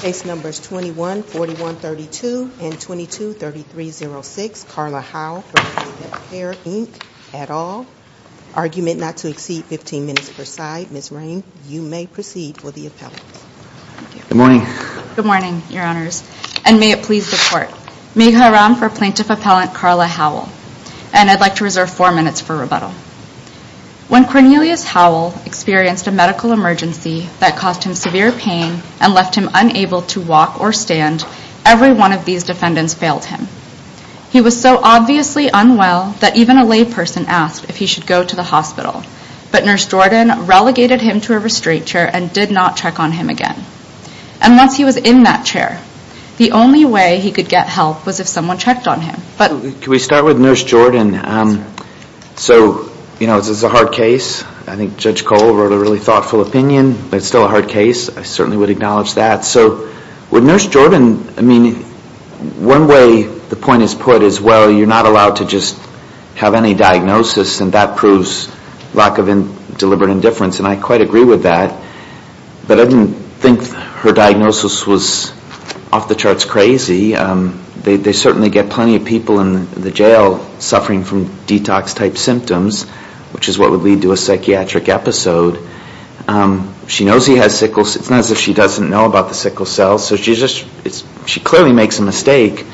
Case Numbers 21, 41, 32, and 22, 3306, Karla Howell v. NaphCare Inc, et al. Argument not to exceed 15 minutes per side. Ms. Raine, you may proceed for the appellate. Good morning. Good morning, Your Honors, and may it please the Court. Meg Haram for Plaintiff Appellant Karla Howell, and I'd like to reserve four minutes for rebuttal. When Cornelius Howell experienced a medical emergency that caused him severe pain and left him unable to walk or stand, every one of these defendants failed him. He was so obviously unwell that even a layperson asked if he should go to the hospital, but Nurse Jordan relegated him to a restraint chair and did not check on him again. And once he was in that chair, the only way he could get help was if someone checked on him. Can we start with Nurse Jordan? So, you know, this is a hard case. I think Judge Cole wrote a really thoughtful opinion, but it's still a hard case. I certainly would acknowledge that. So with Nurse Jordan, I mean, one way the point is put is, well, you're not allowed to just have any diagnosis, and that proves lack of deliberate indifference, and I quite agree with that. But I didn't think her diagnosis was off the charts crazy. They certainly get plenty of people in the jail suffering from detox-type symptoms, which is what would lead to a psychiatric episode. She knows he has sickle cells. It's not as if she doesn't know about the sickle cells. So she clearly makes a mistake,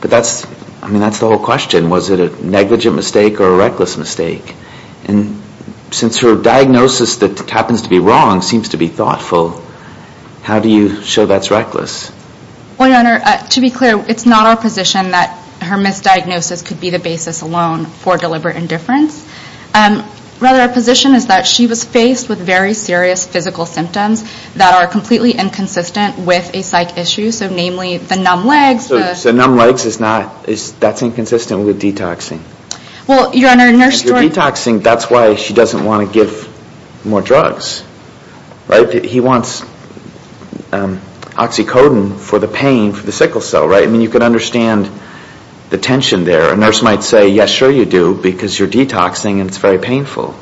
but that's the whole question. Was it a negligent mistake or a reckless mistake? And since her diagnosis that happens to be wrong seems to be thoughtful, how do you show that's reckless? Well, Your Honor, to be clear, it's not our position that her misdiagnosis could be the basis alone for deliberate indifference. Rather, our position is that she was faced with very serious physical symptoms that are completely inconsistent with a psych issue, so namely the numb legs. So numb legs is not, that's inconsistent with detoxing. Well, Your Honor, Nurse Jordan Detoxing, that's why she doesn't want to give more drugs, right? He wants oxycodone for the pain for the sickle cell, right? I mean, you can understand the tension there. A nurse might say, yes, sure you do, because you're detoxing and it's very painful.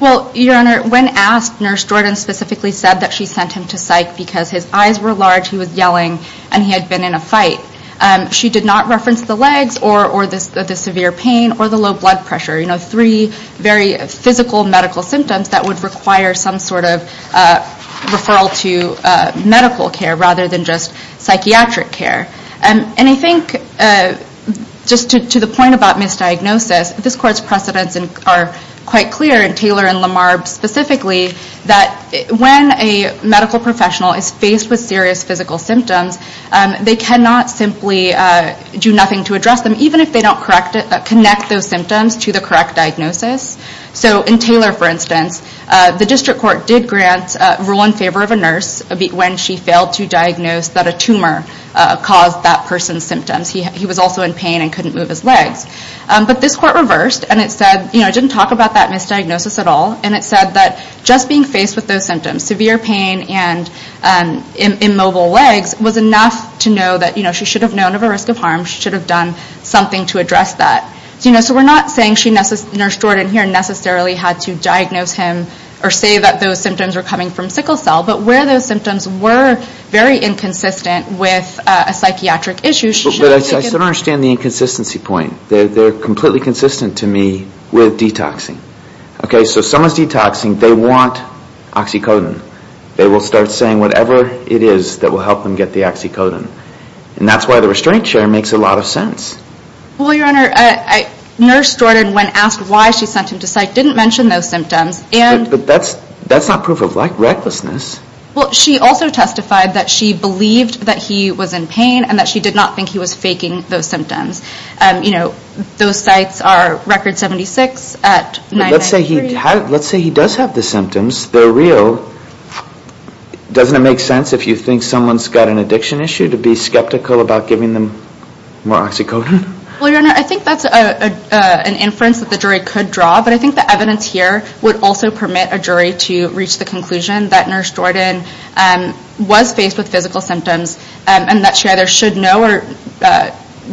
Well, Your Honor, when asked, Nurse Jordan specifically said that she sent him to psych because his eyes were large, he was yelling, and he had been in a fight. She did not reference the legs or the severe pain or the low blood pressure, three very physical medical symptoms that would require some sort of referral to medical care rather than just psychiatric care. And I think, just to the point about misdiagnosis, this Court's precedents are quite clear, and Taylor and Lamar specifically, that when a medical professional is faced with serious physical symptoms, they cannot simply do nothing to address them, even if they don't connect those symptoms to the correct diagnosis. So in Taylor, for instance, the District Court did grant rule in favor of a nurse when she failed to diagnose that a tumor caused that person's symptoms. He was also in pain and couldn't move his legs. But this Court reversed, and it said, you know, it didn't talk about that misdiagnosis at all, and it said that just being faced with those symptoms, severe pain and immobile legs, was enough to know that she should have known of a risk of harm, she should have done something to address that. So we're not saying Nurse Jordan here necessarily had to diagnose him or say that those symptoms were coming from sickle cell, but where those symptoms were very inconsistent with a psychiatric issue, she should have taken... But I still don't understand the inconsistency point. They're completely consistent to me with detoxing. Okay, so someone's detoxing, they want oxycodone. They will start saying whatever it is that will help them get the oxycodone. And that's why the restraint share makes a lot of sense. Well, Your Honor, Nurse Jordan, when asked why she sent him to psych, didn't mention those symptoms, and... But that's not proof of recklessness. Well, she also testified that she believed that he was in pain and that she did not think he was faking those symptoms. You know, those sites are Record 76 at 993... Doesn't it make sense if you think someone's got an addiction issue to be skeptical about giving them more oxycodone? Well, Your Honor, I think that's an inference that the jury could draw, but I think the evidence here would also permit a jury to reach the conclusion that Nurse Jordan was faced with physical symptoms and that she either should know or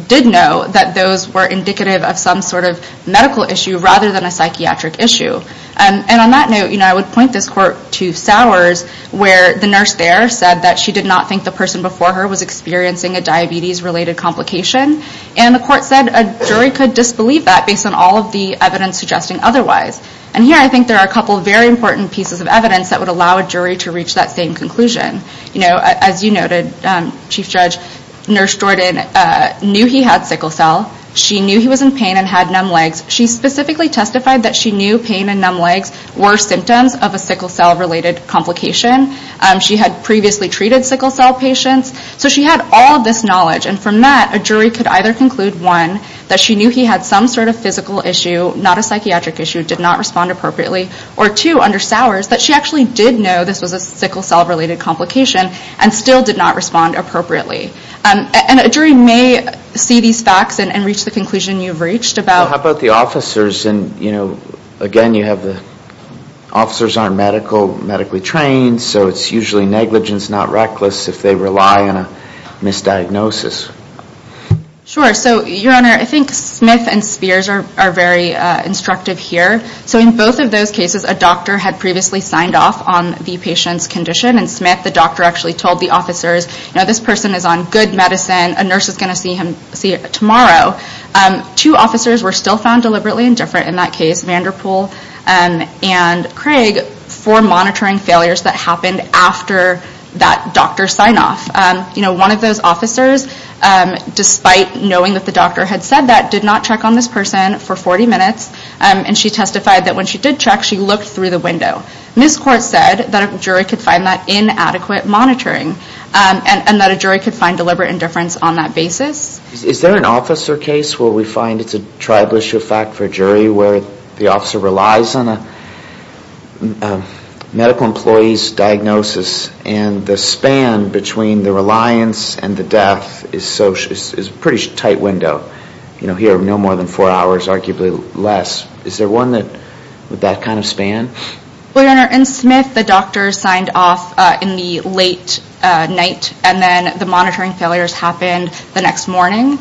did know that those were indicative of some sort of medical issue rather than a psychiatric issue. And on that note, you know, I would point this court to Sowers where the nurse there said that she did not think the person before her was experiencing a diabetes-related complication. And the court said a jury could disbelieve that based on all of the evidence suggesting otherwise. And here I think there are a couple very important pieces of evidence that would allow a jury to reach that same conclusion. You know, as you noted, Chief Judge, Nurse Jordan knew he had sickle cell. She knew he was in pain and had numb legs. She specifically testified that she knew pain and numb legs were symptoms of a sickle cell-related complication. She had previously treated sickle cell patients. So she had all of this knowledge. And from that, a jury could either conclude, one, that she knew he had some sort of physical issue, not a psychiatric issue, did not respond appropriately, or two, under Sowers, that she actually did know this was a sickle cell-related complication and still did not respond appropriately. And a jury may see these facts and reach the conclusion you've reached about... Well, how about the officers? And, you know, again, you have the... Officers aren't medically trained, so it's usually negligence, not reckless, if they rely on a misdiagnosis. Sure. So, Your Honor, I think Smith and Spears are very instructive here. So in both of those cases, a doctor had previously signed off on the patient's condition, and Smith, the doctor, actually told the officers, you know, this person is on good medicine. A nurse is going to see him tomorrow. Two officers were still found deliberately indifferent in that case, Vanderpool and Craig, for monitoring failures that happened after that doctor signed off. You know, one of those officers, despite knowing that the doctor had said that, did not check on this person for 40 minutes, and she testified that when she did check, she looked through the window. And this court said that a jury could find that inadequate monitoring and that a jury could find deliberate indifference on that basis. Is there an officer case where we find it's a tribal issue of fact for a jury where the officer relies on a medical employee's diagnosis, and the span between the reliance and the death is a pretty tight window? You know, here, no more than four hours, arguably less. Is there one with that kind of span? Well, Your Honor, in Smith, the doctor signed off in the late night, and then the monitoring failures happened the next morning,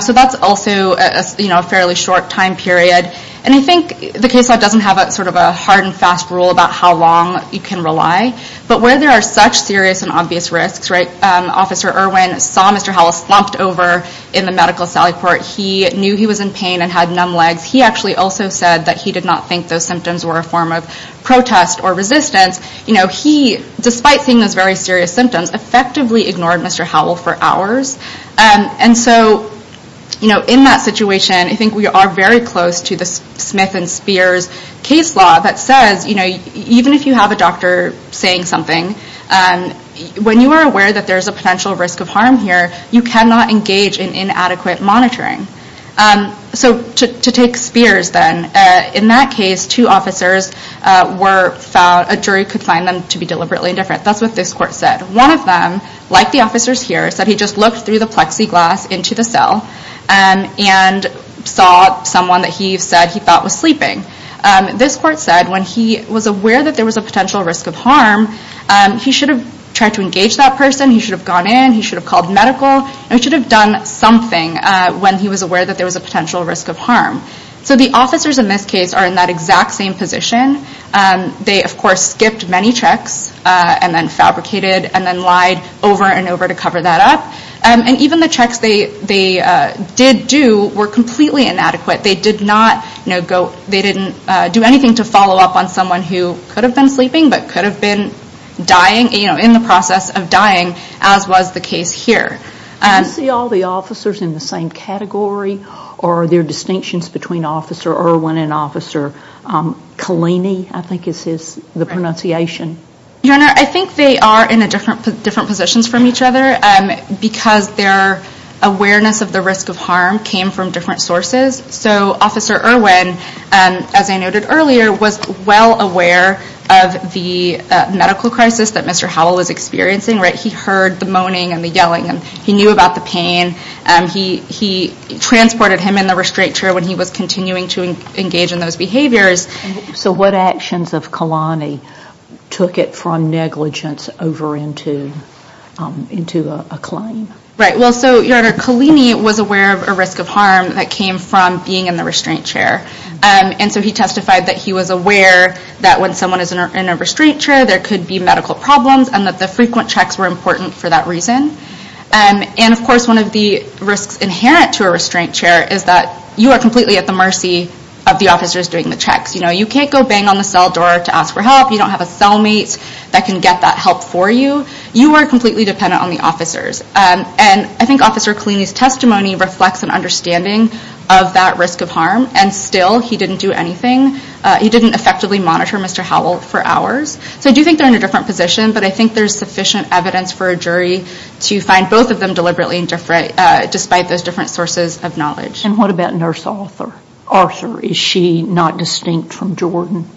so that's also a fairly short time period. And I think the case law doesn't have sort of a hard and fast rule about how long you can rely, but where there are such serious and obvious risks, right, Officer Irwin saw Mr. Howell slumped over in the medical sally court. He knew he was in pain and had numb legs. He actually also said that he did not think those symptoms were a form of protest or resistance. You know, he, despite seeing those very serious symptoms, effectively ignored Mr. Howell for hours. And so, you know, in that situation, I think we are very close to the Smith and Spears case law that says, you know, even if you have a doctor saying something, when you are aware that there is a potential risk of harm here, you cannot engage in inadequate monitoring. So to take Spears, then, in that case, two officers were found, a jury could find them to be deliberately indifferent. That's what this court said. One of them, like the officers here, said he just looked through the plexiglass into the cell and saw someone that he said he thought was sleeping. This court said when he was aware that there was a potential risk of harm, he should have tried to engage that person, he should have gone in, he should have called medical, and he should have done something when he was aware that there was a potential risk of harm. So the officers in this case are in that exact same position. They, of course, skipped many checks and then fabricated and then lied over and over to cover that up. And even the checks they did do were completely inadequate. They did not, you know, go, they didn't do anything to follow up on someone who could have been sleeping but could have been dying, you know, in the process of dying, as was the case here. Do you see all the officers in the same category or are there distinctions between Officer Irwin and Officer Kalini, I think is the pronunciation? Your Honor, I think they are in different positions from each other because their awareness of the risk of harm came from different sources. So Officer Irwin, as I noted earlier, was well aware of the medical crisis that Mr. Howell was experiencing. He heard the moaning and the yelling and he knew about the pain. He transported him in the restraint chair when he was continuing to engage in those behaviors. So what actions of Kalani took it from negligence over into a claim? Right, well, so, Your Honor, Kalini was aware of a risk of harm that came from being in the restraint chair. And so he testified that he was aware that when someone is in a restraint chair there could be medical problems and that the frequent checks were important for that reason. And, of course, one of the risks inherent to a restraint chair is that you are completely at the mercy of the officers doing the checks. You know, you can't go bang on the cell door to ask for help. You don't have a cellmate that can get that help for you. You are completely dependent on the officers. And I think Officer Kalini's testimony reflects an understanding of that risk of harm and still he didn't do anything. He didn't effectively monitor Mr. Howell for hours. So I do think they're in a different position but I think there's sufficient evidence for a jury to find both of them deliberately despite those different sources of knowledge. And what about Nurse Arthur? Is she not distinct from Jordan?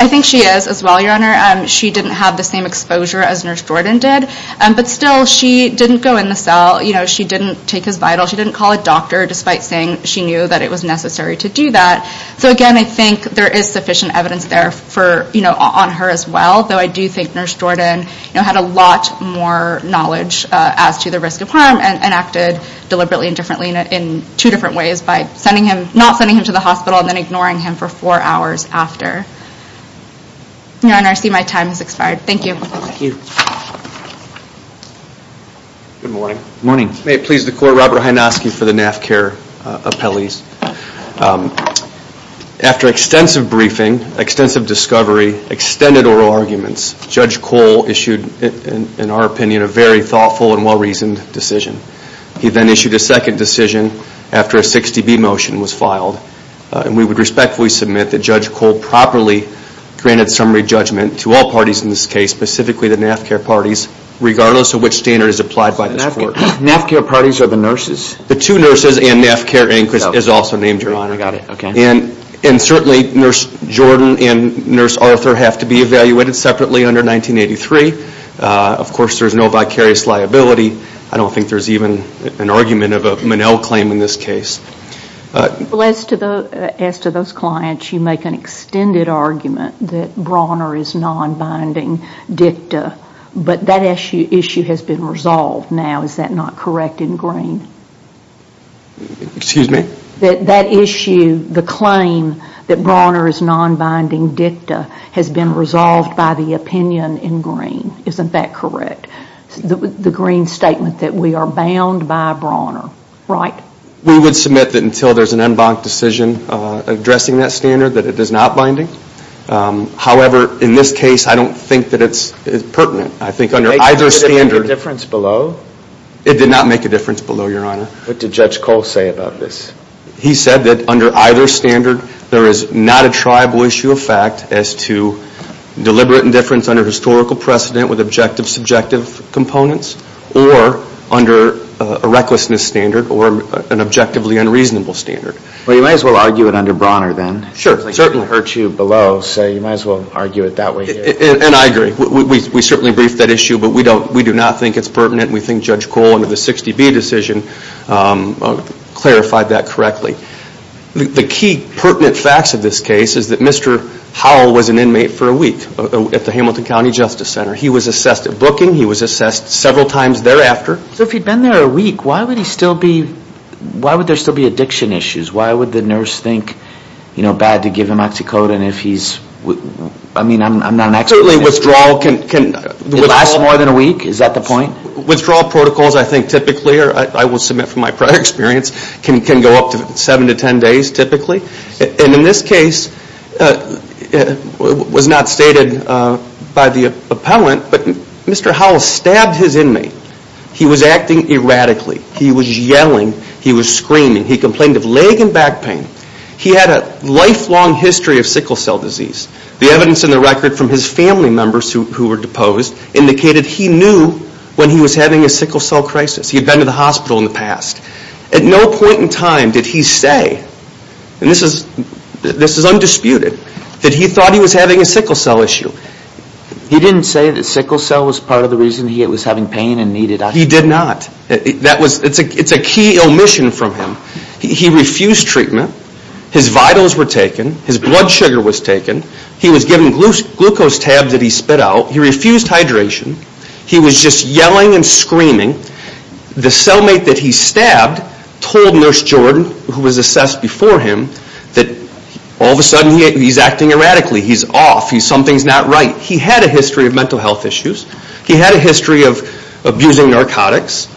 I think she is as well, Your Honor. She didn't have the same exposure as Nurse Jordan did. But still, she didn't go in the cell. You know, she didn't take his vitals. She didn't call a doctor despite saying she knew that it was necessary to do that. So, again, I think there is sufficient evidence there on her as well. Though I do think Nurse Jordan had a lot more knowledge as to the risk of harm and acted deliberately and differently in two different ways by not sending him to the hospital and then ignoring him for four hours after. Your Honor, I see my time has expired. Thank you. Thank you. Good morning. Good morning. May it please the Court, Robert Hynoski for the NAF care appellees. After extensive briefing, extensive discovery, extended oral arguments, Judge Cole issued, in our opinion, a very thoughtful and well-reasoned decision. He then issued a second decision after a 60B motion was filed. And we would respectfully submit that Judge Cole properly granted summary judgment to all parties in this case, specifically the NAF care parties, regardless of which standard is applied by this Court. NAF care parties or the nurses? The two nurses and NAF care inquest is also named, Your Honor. I got it. Okay. And certainly Nurse Jordan and Nurse Arthur have to be evaluated separately under 1983. Of course, there is no vicarious liability. I don't think there is even an argument of a Monell claim in this case. Well, as to those clients, you make an extended argument that Brawner is non-binding dicta. But that issue has been resolved now. Is that not correct in Green? Excuse me? That issue, the claim that Brawner is non-binding dicta, has been resolved by the opinion in Green. Isn't that correct? The Green statement that we are bound by Brawner, right? We would submit that until there is an en banc decision addressing that standard, that it is not binding. However, in this case, I don't think that it's pertinent. I think under either standard. Did it make a difference below? It did not make a difference below, Your Honor. What did Judge Cole say about this? He said that under either standard, there is not a tribal issue of fact as to deliberate indifference under historical precedent with objective subjective components or under a recklessness standard or an objectively unreasonable standard. Well, you might as well argue it under Brawner then. Sure. It certainly hurts you below, so you might as well argue it that way here. And I agree. We certainly briefed that issue, but we do not think it's pertinent. We think Judge Cole, under the 60B decision, clarified that correctly. The key pertinent facts of this case is that Mr. Howell was an inmate for a week at the Hamilton County Justice Center. He was assessed at booking. He was assessed several times thereafter. So if he had been there a week, why would there still be addiction issues? Why would the nurse think, you know, bad to give him oxycodone if he's, I mean, I'm not an expert. Certainly withdrawal can. It lasts more than a week? Is that the point? Withdrawal protocols, I think typically, or I will submit from my prior experience, can go up to seven to ten days typically. And in this case, it was not stated by the appellant, but Mr. Howell stabbed his inmate. He was acting erratically. He was yelling. He was screaming. He complained of leg and back pain. He had a lifelong history of sickle cell disease. The evidence in the record from his family members who were deposed indicated he knew when he was having a sickle cell crisis. He had been to the hospital in the past. At no point in time did he say, and this is undisputed, that he thought he was having a sickle cell issue. He didn't say that sickle cell was part of the reason he was having pain and needed oxygen? He did not. It's a key omission from him. He refused treatment. His vitals were taken. His blood sugar was taken. He was given glucose tabs that he spit out. He refused hydration. He was just yelling and screaming. The cellmate that he stabbed told Nurse Jordan, who was assessed before him, that all of a sudden he's acting erratically. He's off. Something's not right. He had a history of mental health issues. He had a history of abusing narcotics.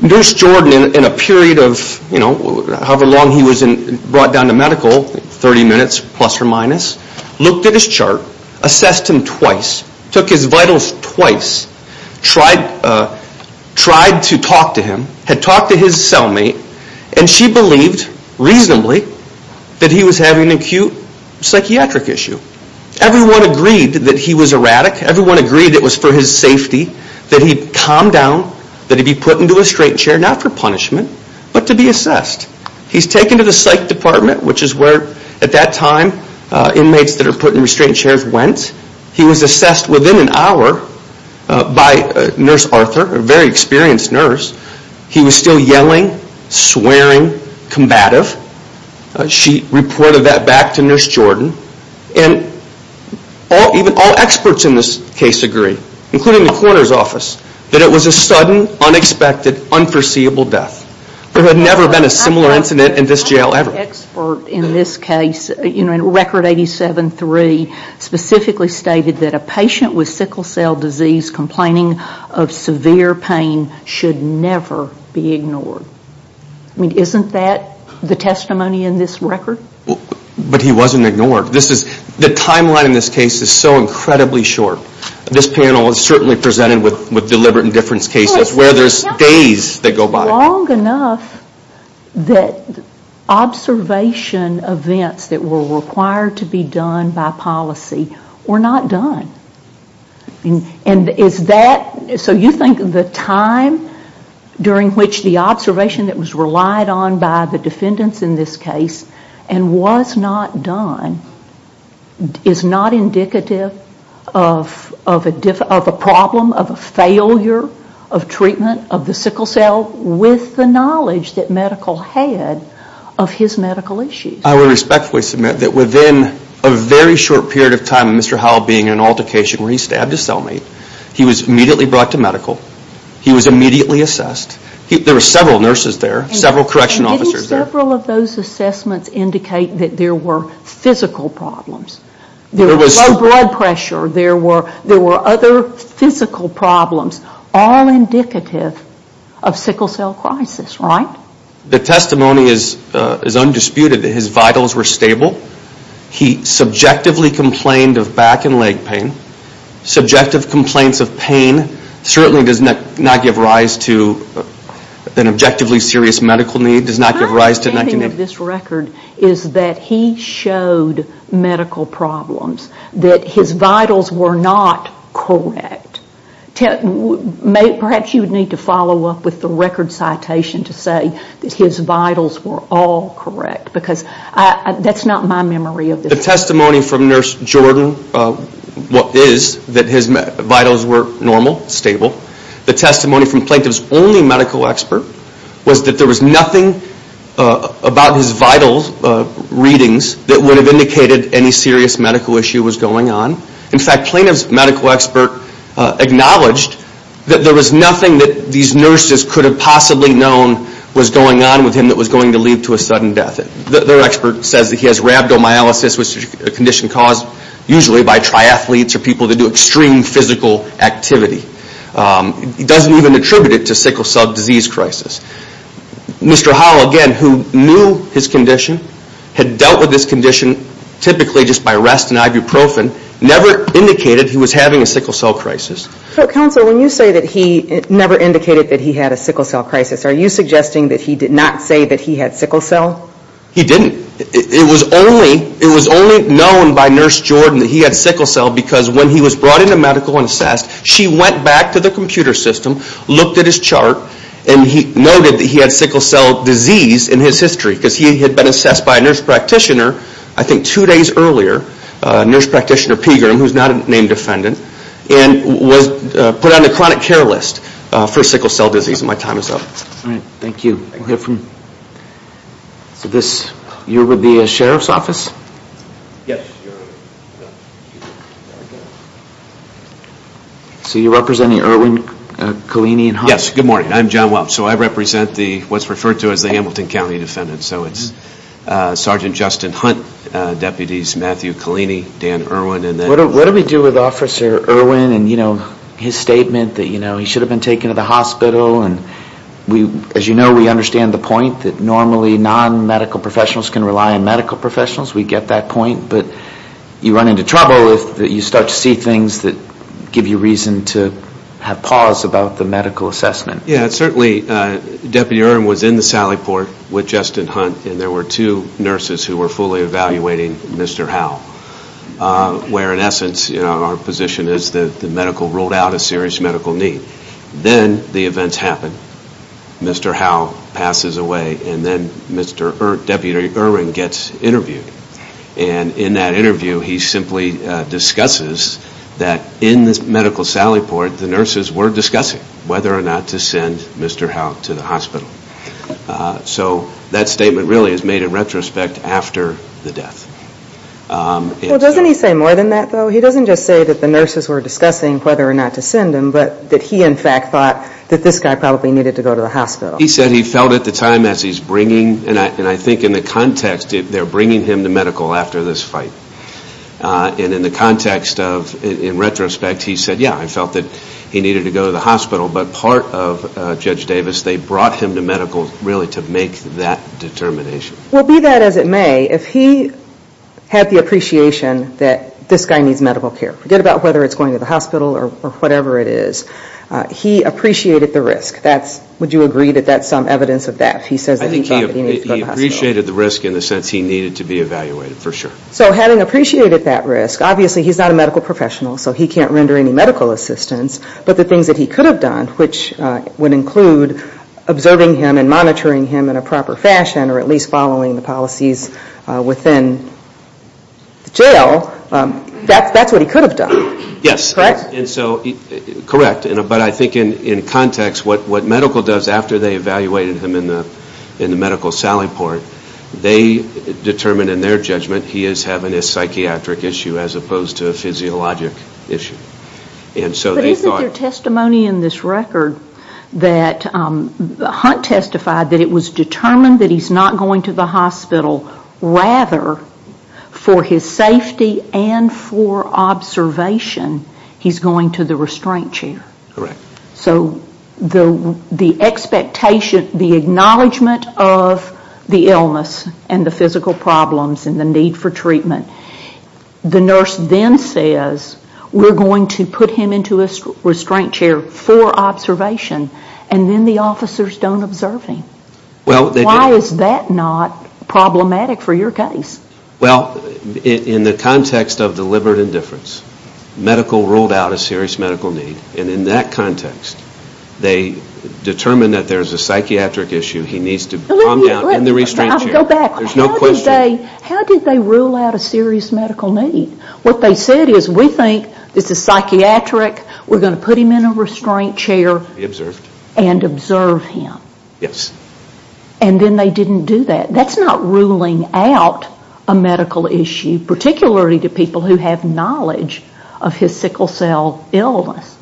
Nurse Jordan, in a period of however long he was brought down to medical, 30 minutes plus or minus, looked at his chart, assessed him twice, took his vitals twice, tried to talk to him, had talked to his cellmate, and she believed reasonably that he was having an acute psychiatric issue. Everyone agreed that he was erratic. Everyone agreed it was for his safety, that he'd calm down, that he'd be put into a restraint chair, not for punishment, but to be assessed. He's taken to the psych department, which is where, at that time, inmates that are put in restraint chairs went. He was assessed within an hour by Nurse Arthur, a very experienced nurse. He was still yelling, swearing, combative. She reported that back to Nurse Jordan. All experts in this case agree, including the coroner's office, that it was a sudden, unexpected, unforeseeable death. There had never been a similar incident in this jail ever. My expert in this case, in Record 87-3, specifically stated that a patient with sickle cell disease complaining of severe pain should never be ignored. Isn't that the testimony in this record? But he wasn't ignored. The timeline in this case is so incredibly short. This panel is certainly presented with deliberate indifference cases where there's days that go by. Long enough that observation events that were required to be done by policy were not done. So you think the time during which the observation that was relied on by the defendants in this case and was not done is not indicative of a problem, of a failure of treatment of the sickle cell with the knowledge that medical had of his medical issues? I would respectfully submit that within a very short period of time of Mr. Howell being in an altercation where he stabbed his cellmate, he was immediately brought to medical. He was immediately assessed. There were several nurses there, several correction officers there. Didn't several of those assessments indicate that there were physical problems? There was low blood pressure. There were other physical problems. All indicative of sickle cell crisis, right? The testimony is undisputed. His vitals were stable. He subjectively complained of back and leg pain. Subjective complaints of pain certainly does not give rise to an objectively serious medical need. My understanding of this record is that he showed medical problems, that his vitals were not correct. Perhaps you would need to follow up with the record citation to say that his vitals were all correct because that's not my memory of this. The testimony from Nurse Jordan is that his vitals were normal, stable. The testimony from Plaintiff's only medical expert was that there was nothing about his vital readings that would have indicated any serious medical issue was going on. In fact, Plaintiff's medical expert acknowledged that there was nothing that these nurses could have possibly known was going on with him that was going to lead to a sudden death. Their expert says that he has rhabdomyolysis, which is a condition caused usually by triathletes or people that do extreme physical activity. It doesn't even attribute it to sickle cell disease crisis. Mr. Howell, again, who knew his condition, had dealt with this condition typically just by rest and ibuprofen, never indicated he was having a sickle cell crisis. Counsel, when you say that he never indicated that he had a sickle cell crisis, are you suggesting that he did not say that he had sickle cell? He didn't. It was only known by Nurse Jordan that he had sickle cell because when he was brought into medical and assessed, she went back to the computer system, looked at his chart, and noted that he had sickle cell disease in his history because he had been assessed by a nurse practitioner, I think two days earlier, Nurse Practitioner Pegram, who is not a named defendant, and was put on the chronic care list for sickle cell disease. My time is up. Thank you. You're with the Sheriff's Office? Yes. So you're representing Irwin, Colini, and Hunt? Yes. Good morning. I'm John Welch. I represent what's referred to as the Hamilton County Defendants. It's Sergeant Justin Hunt, Deputies Matthew Colini, Dan Irwin. What do we do with Officer Irwin and his statement that he should have been taken to the hospital? As you know, we understand the point that normally non-medical professionals can rely on medical professionals. We get that point. But you run into trouble if you start to see things that give you reason to have pause about the medical assessment. Yes. Certainly Deputy Irwin was in the sally port with Justin Hunt, and there were two nurses who were fully evaluating Mr. Howell, where, in essence, our position is that the medical ruled out a serious medical need. Then the events happen. Mr. Howell passes away, and then Deputy Irwin gets interviewed. In that interview, he simply discusses that in this medical sally port, the nurses were discussing whether or not to send Mr. Howell to the hospital. So that statement really is made in retrospect after the death. Doesn't he say more than that, though? He doesn't just say that the nurses were discussing whether or not to send him, but that he, in fact, thought that this guy probably needed to go to the hospital. He said he felt at the time as he's bringing, and I think in the context they're bringing him to medical after this fight, and in the context of, in retrospect, he said, yeah, I felt that he needed to go to the hospital. But part of Judge Davis, they brought him to medical really to make that determination. Well, be that as it may, if he had the appreciation that this guy needs medical care, forget about whether it's going to the hospital or whatever it is, he appreciated the risk. Would you agree that that's some evidence of that? He says that he thought that he needed to go to the hospital. I think he appreciated the risk in the sense he needed to be evaluated, for sure. So having appreciated that risk, obviously he's not a medical professional, so he can't render any medical assistance, but the things that he could have done, which would include observing him and monitoring him in a proper fashion, or at least following the policies within the jail, that's what he could have done. Yes. Correct? Correct. But I think in context, what medical does after they evaluated him in the medical sally port, they determined in their judgment he is having a psychiatric issue as opposed to a physiologic issue. But isn't there testimony in this record that Hunt testified that it was determined that he's not going to the hospital, rather, for his safety and for observation, he's going to the restraint chair? Correct. So the expectation, the acknowledgement of the illness and the physical problems and the need for treatment, the nurse then says, we're going to put him into a restraint chair for observation, and then the officers don't observe him. Why is that not problematic for your case? Well, in the context of deliberate indifference, medical ruled out a serious medical need, and in that context, they determined that there's a psychiatric issue, he needs to calm down in the restraint chair. I'll go back. There's no question. How did they rule out a serious medical need? What they said is, we think this is psychiatric, we're going to put him in a restraint chair. Be observed. And observe him. Yes. And then they didn't do that. That's not ruling out a medical issue, particularly to people who have knowledge of his sickle cell illness.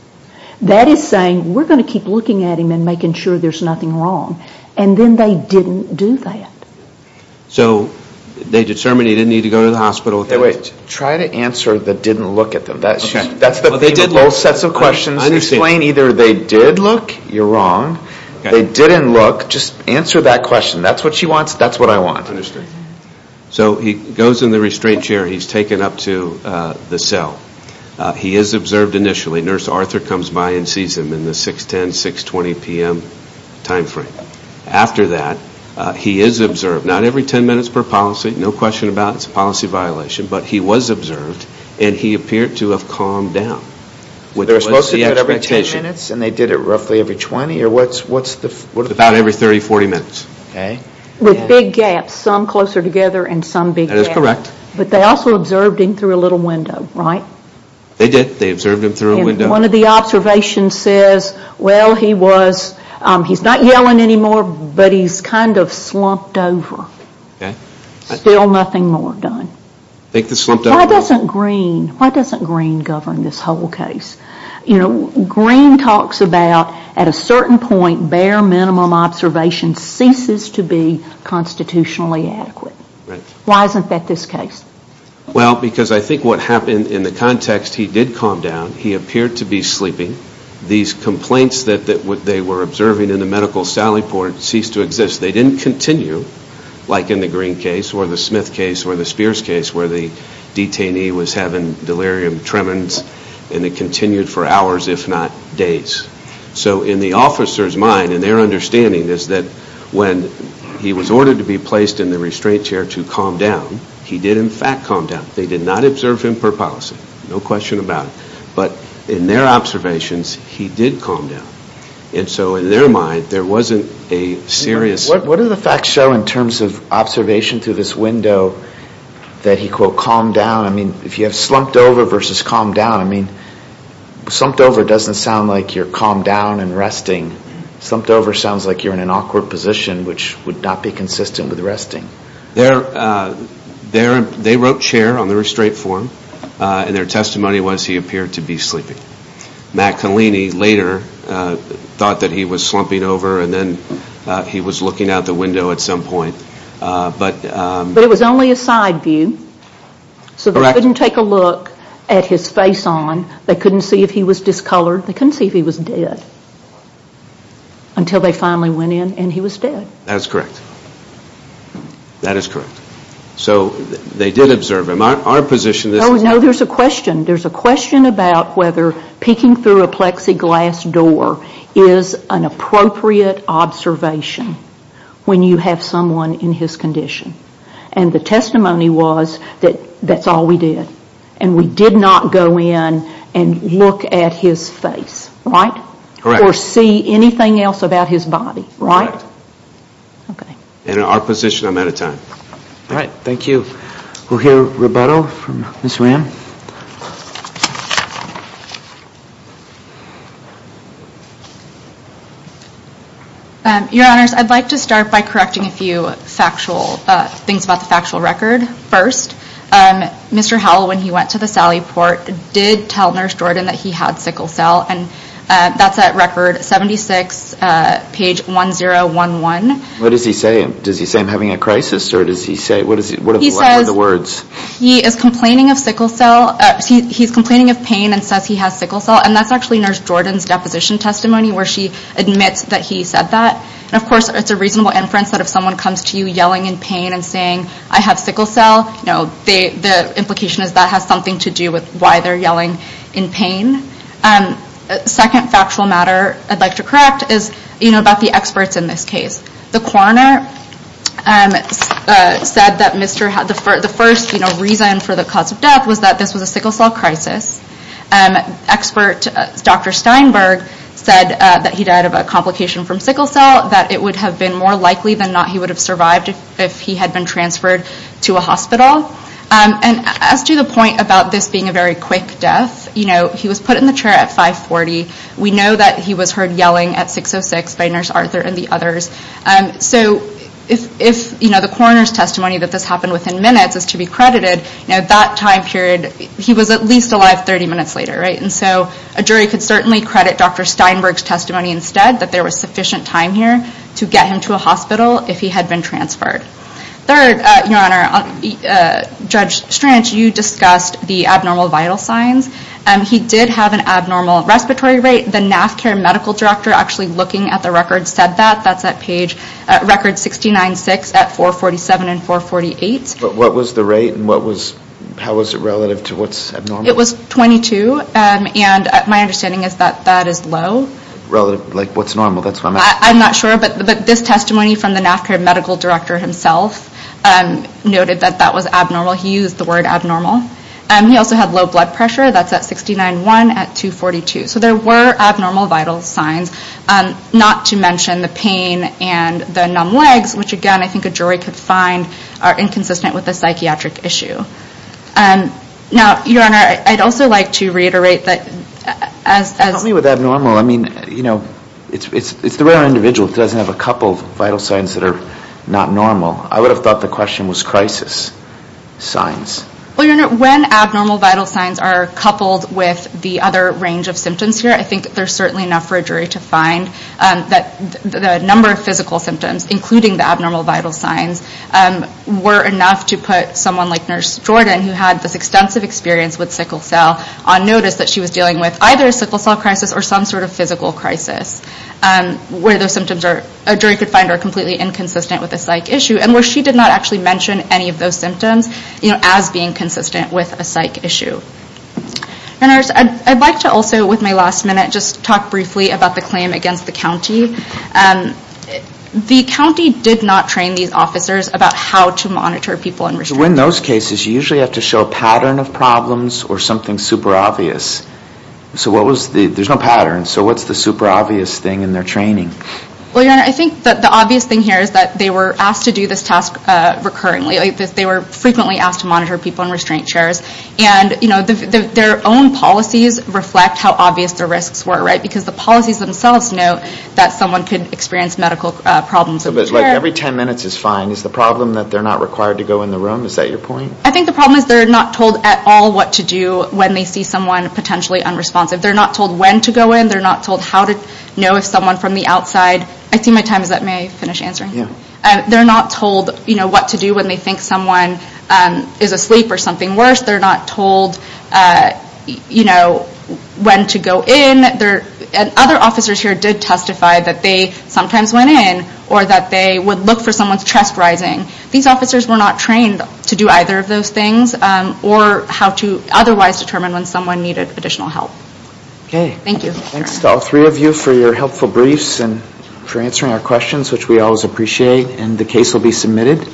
That is saying, we're going to keep looking at him and making sure there's nothing wrong. And then they didn't do that. So they determined he didn't need to go to the hospital. Wait. Try to answer the didn't look at them. That's the thing with those sets of questions. Explain either they did look, you're wrong, they didn't look, just answer that question. That's what she wants, that's what I want. Understood. So he goes in the restraint chair, he's taken up to the cell. He is observed initially. Nurse Arthur comes by and sees him in the 610, 620 p.m. time frame. After that, he is observed, not every 10 minutes per policy, no question about it, it's a policy violation, but he was observed, and he appeared to have calmed down. They were supposed to do it every 10 minutes, and they did it roughly every 20? About every 30, 40 minutes. With big gaps, some closer together and some big gaps. That is correct. But they also observed him through a little window, right? They did. They observed him through a window. And one of the observations says, well, he's not yelling anymore, but he's kind of slumped over. Still nothing more done. Why doesn't Green govern this whole case? Green talks about, at a certain point, bare minimum observation ceases to be constitutionally adequate. Why isn't that this case? Well, because I think what happened in the context, he did calm down. He appeared to be sleeping. These complaints that they were observing in the medical sally port ceased to exist. They didn't continue, like in the Green case or the Smith case or the Spears case where the detainee was having delirium tremens, and it continued for hours, if not days. So in the officer's mind, and their understanding, is that when he was ordered to be placed in the restraint chair to calm down, he did, in fact, calm down. They did not observe him per policy. No question about it. But in their observations, he did calm down. And so in their mind, there wasn't a serious – What do the facts show in terms of observation through this window that he, quote, I mean, if you have slumped over versus calm down, I mean, slumped over doesn't sound like you're calmed down and resting. Slumped over sounds like you're in an awkward position, which would not be consistent with resting. They wrote chair on the restraint form, and their testimony was he appeared to be sleeping. Matt Colini later thought that he was slumping over, and then he was looking out the window at some point. But it was only a side view. So they couldn't take a look at his face on. They couldn't see if he was discolored. They couldn't see if he was dead until they finally went in and he was dead. That is correct. That is correct. So they did observe him. Our position is – No, there's a question. There's a question about whether peeking through a plexiglass door is an appropriate observation when you have someone in his condition. And the testimony was that that's all we did. And we did not go in and look at his face. Right? Correct. Or see anything else about his body. Right? Correct. Okay. In our position, I'm out of time. All right. Thank you. We'll hear rebuttal from Ms. Ram. Your Honors, I'd like to start by correcting a few things about the factual record. First, Mr. Howell, when he went to the Sally Port, did tell Nurse Jordan that he had sickle cell. And that's at Record 76, page 1011. What does he say? Does he say, I'm having a crisis? What does he say? What are the words? He says he is complaining of sickle cell. He's complaining of pain and says he has sickle cell. And that's actually Nurse Jordan's deposition testimony where she admits that he said that. And, of course, it's a reasonable inference that if someone comes to you yelling in pain and saying, I have sickle cell, the implication is that has something to do with why they're yelling in pain. Second factual matter I'd like to correct is about the experts in this case. The coroner said that the first reason for the cause of death was that this was a sickle cell crisis. Expert Dr. Steinberg said that he died of a complication from sickle cell, that it would have been more likely than not he would have survived if he had been transferred to a hospital. And as to the point about this being a very quick death, he was put in the chair at 540. We know that he was heard yelling at 606 by Nurse Arthur and the others. So if, you know, the coroner's testimony that this happened within minutes is to be credited, now that time period, he was at least alive 30 minutes later, right? And so a jury could certainly credit Dr. Steinberg's testimony instead, that there was sufficient time here to get him to a hospital if he had been transferred. Third, Your Honor, Judge Stranch, you discussed the abnormal vital signs. He did have an abnormal respiratory rate. The NAF care medical director actually looking at the record said that. That's at page record 69-6 at 447 and 448. But what was the rate and how was it relative to what's abnormal? It was 22, and my understanding is that that is low. Relative, like what's normal? That's what I'm asking. I'm not sure, but this testimony from the NAF care medical director himself noted that that was abnormal. He used the word abnormal. He also had low blood pressure. That's at 69-1 at 242. So there were abnormal vital signs, not to mention the pain and the numb legs, which, again, I think a jury could find are inconsistent with the psychiatric issue. Now, Your Honor, I'd also like to reiterate that as— Help me with abnormal. I mean, you know, it's the rare individual that doesn't have a couple of vital signs that are not normal. I would have thought the question was crisis signs. Well, Your Honor, when abnormal vital signs are coupled with the other range of symptoms here, I think there's certainly enough for a jury to find that the number of physical symptoms, including the abnormal vital signs, were enough to put someone like Nurse Jordan, who had this extensive experience with sickle cell, on notice that she was dealing with either a sickle cell crisis or some sort of physical crisis, where those symptoms are—a jury could find are completely inconsistent with the psych issue, and where she did not actually mention any of those symptoms as being consistent with a psych issue. Your Honor, I'd like to also, with my last minute, just talk briefly about the claim against the county. The county did not train these officers about how to monitor people in restricted— So in those cases, you usually have to show a pattern of problems or something super obvious. So what was the—there's no pattern. So what's the super obvious thing in their training? Well, Your Honor, I think that the obvious thing here is that they were asked to do this task recurrently. They were frequently asked to monitor people in restraint chairs. And, you know, their own policies reflect how obvious the risks were, right? Because the policies themselves know that someone could experience medical problems in the chair. But every 10 minutes is fine. Is the problem that they're not required to go in the room? Is that your point? I think the problem is they're not told at all what to do when they see someone potentially unresponsive. They're not told when to go in. They're not told how to know if someone from the outside—I see my time is up. May I finish answering? They're not told, you know, what to do when they think someone is asleep or something worse. They're not told, you know, when to go in. Other officers here did testify that they sometimes went in or that they would look for someone's chest rising. These officers were not trained to do either of those things or how to otherwise determine when someone needed additional help. Okay. Thanks to all three of you for your helpful briefs and for answering our questions, which we always appreciate. And the case will be submitted.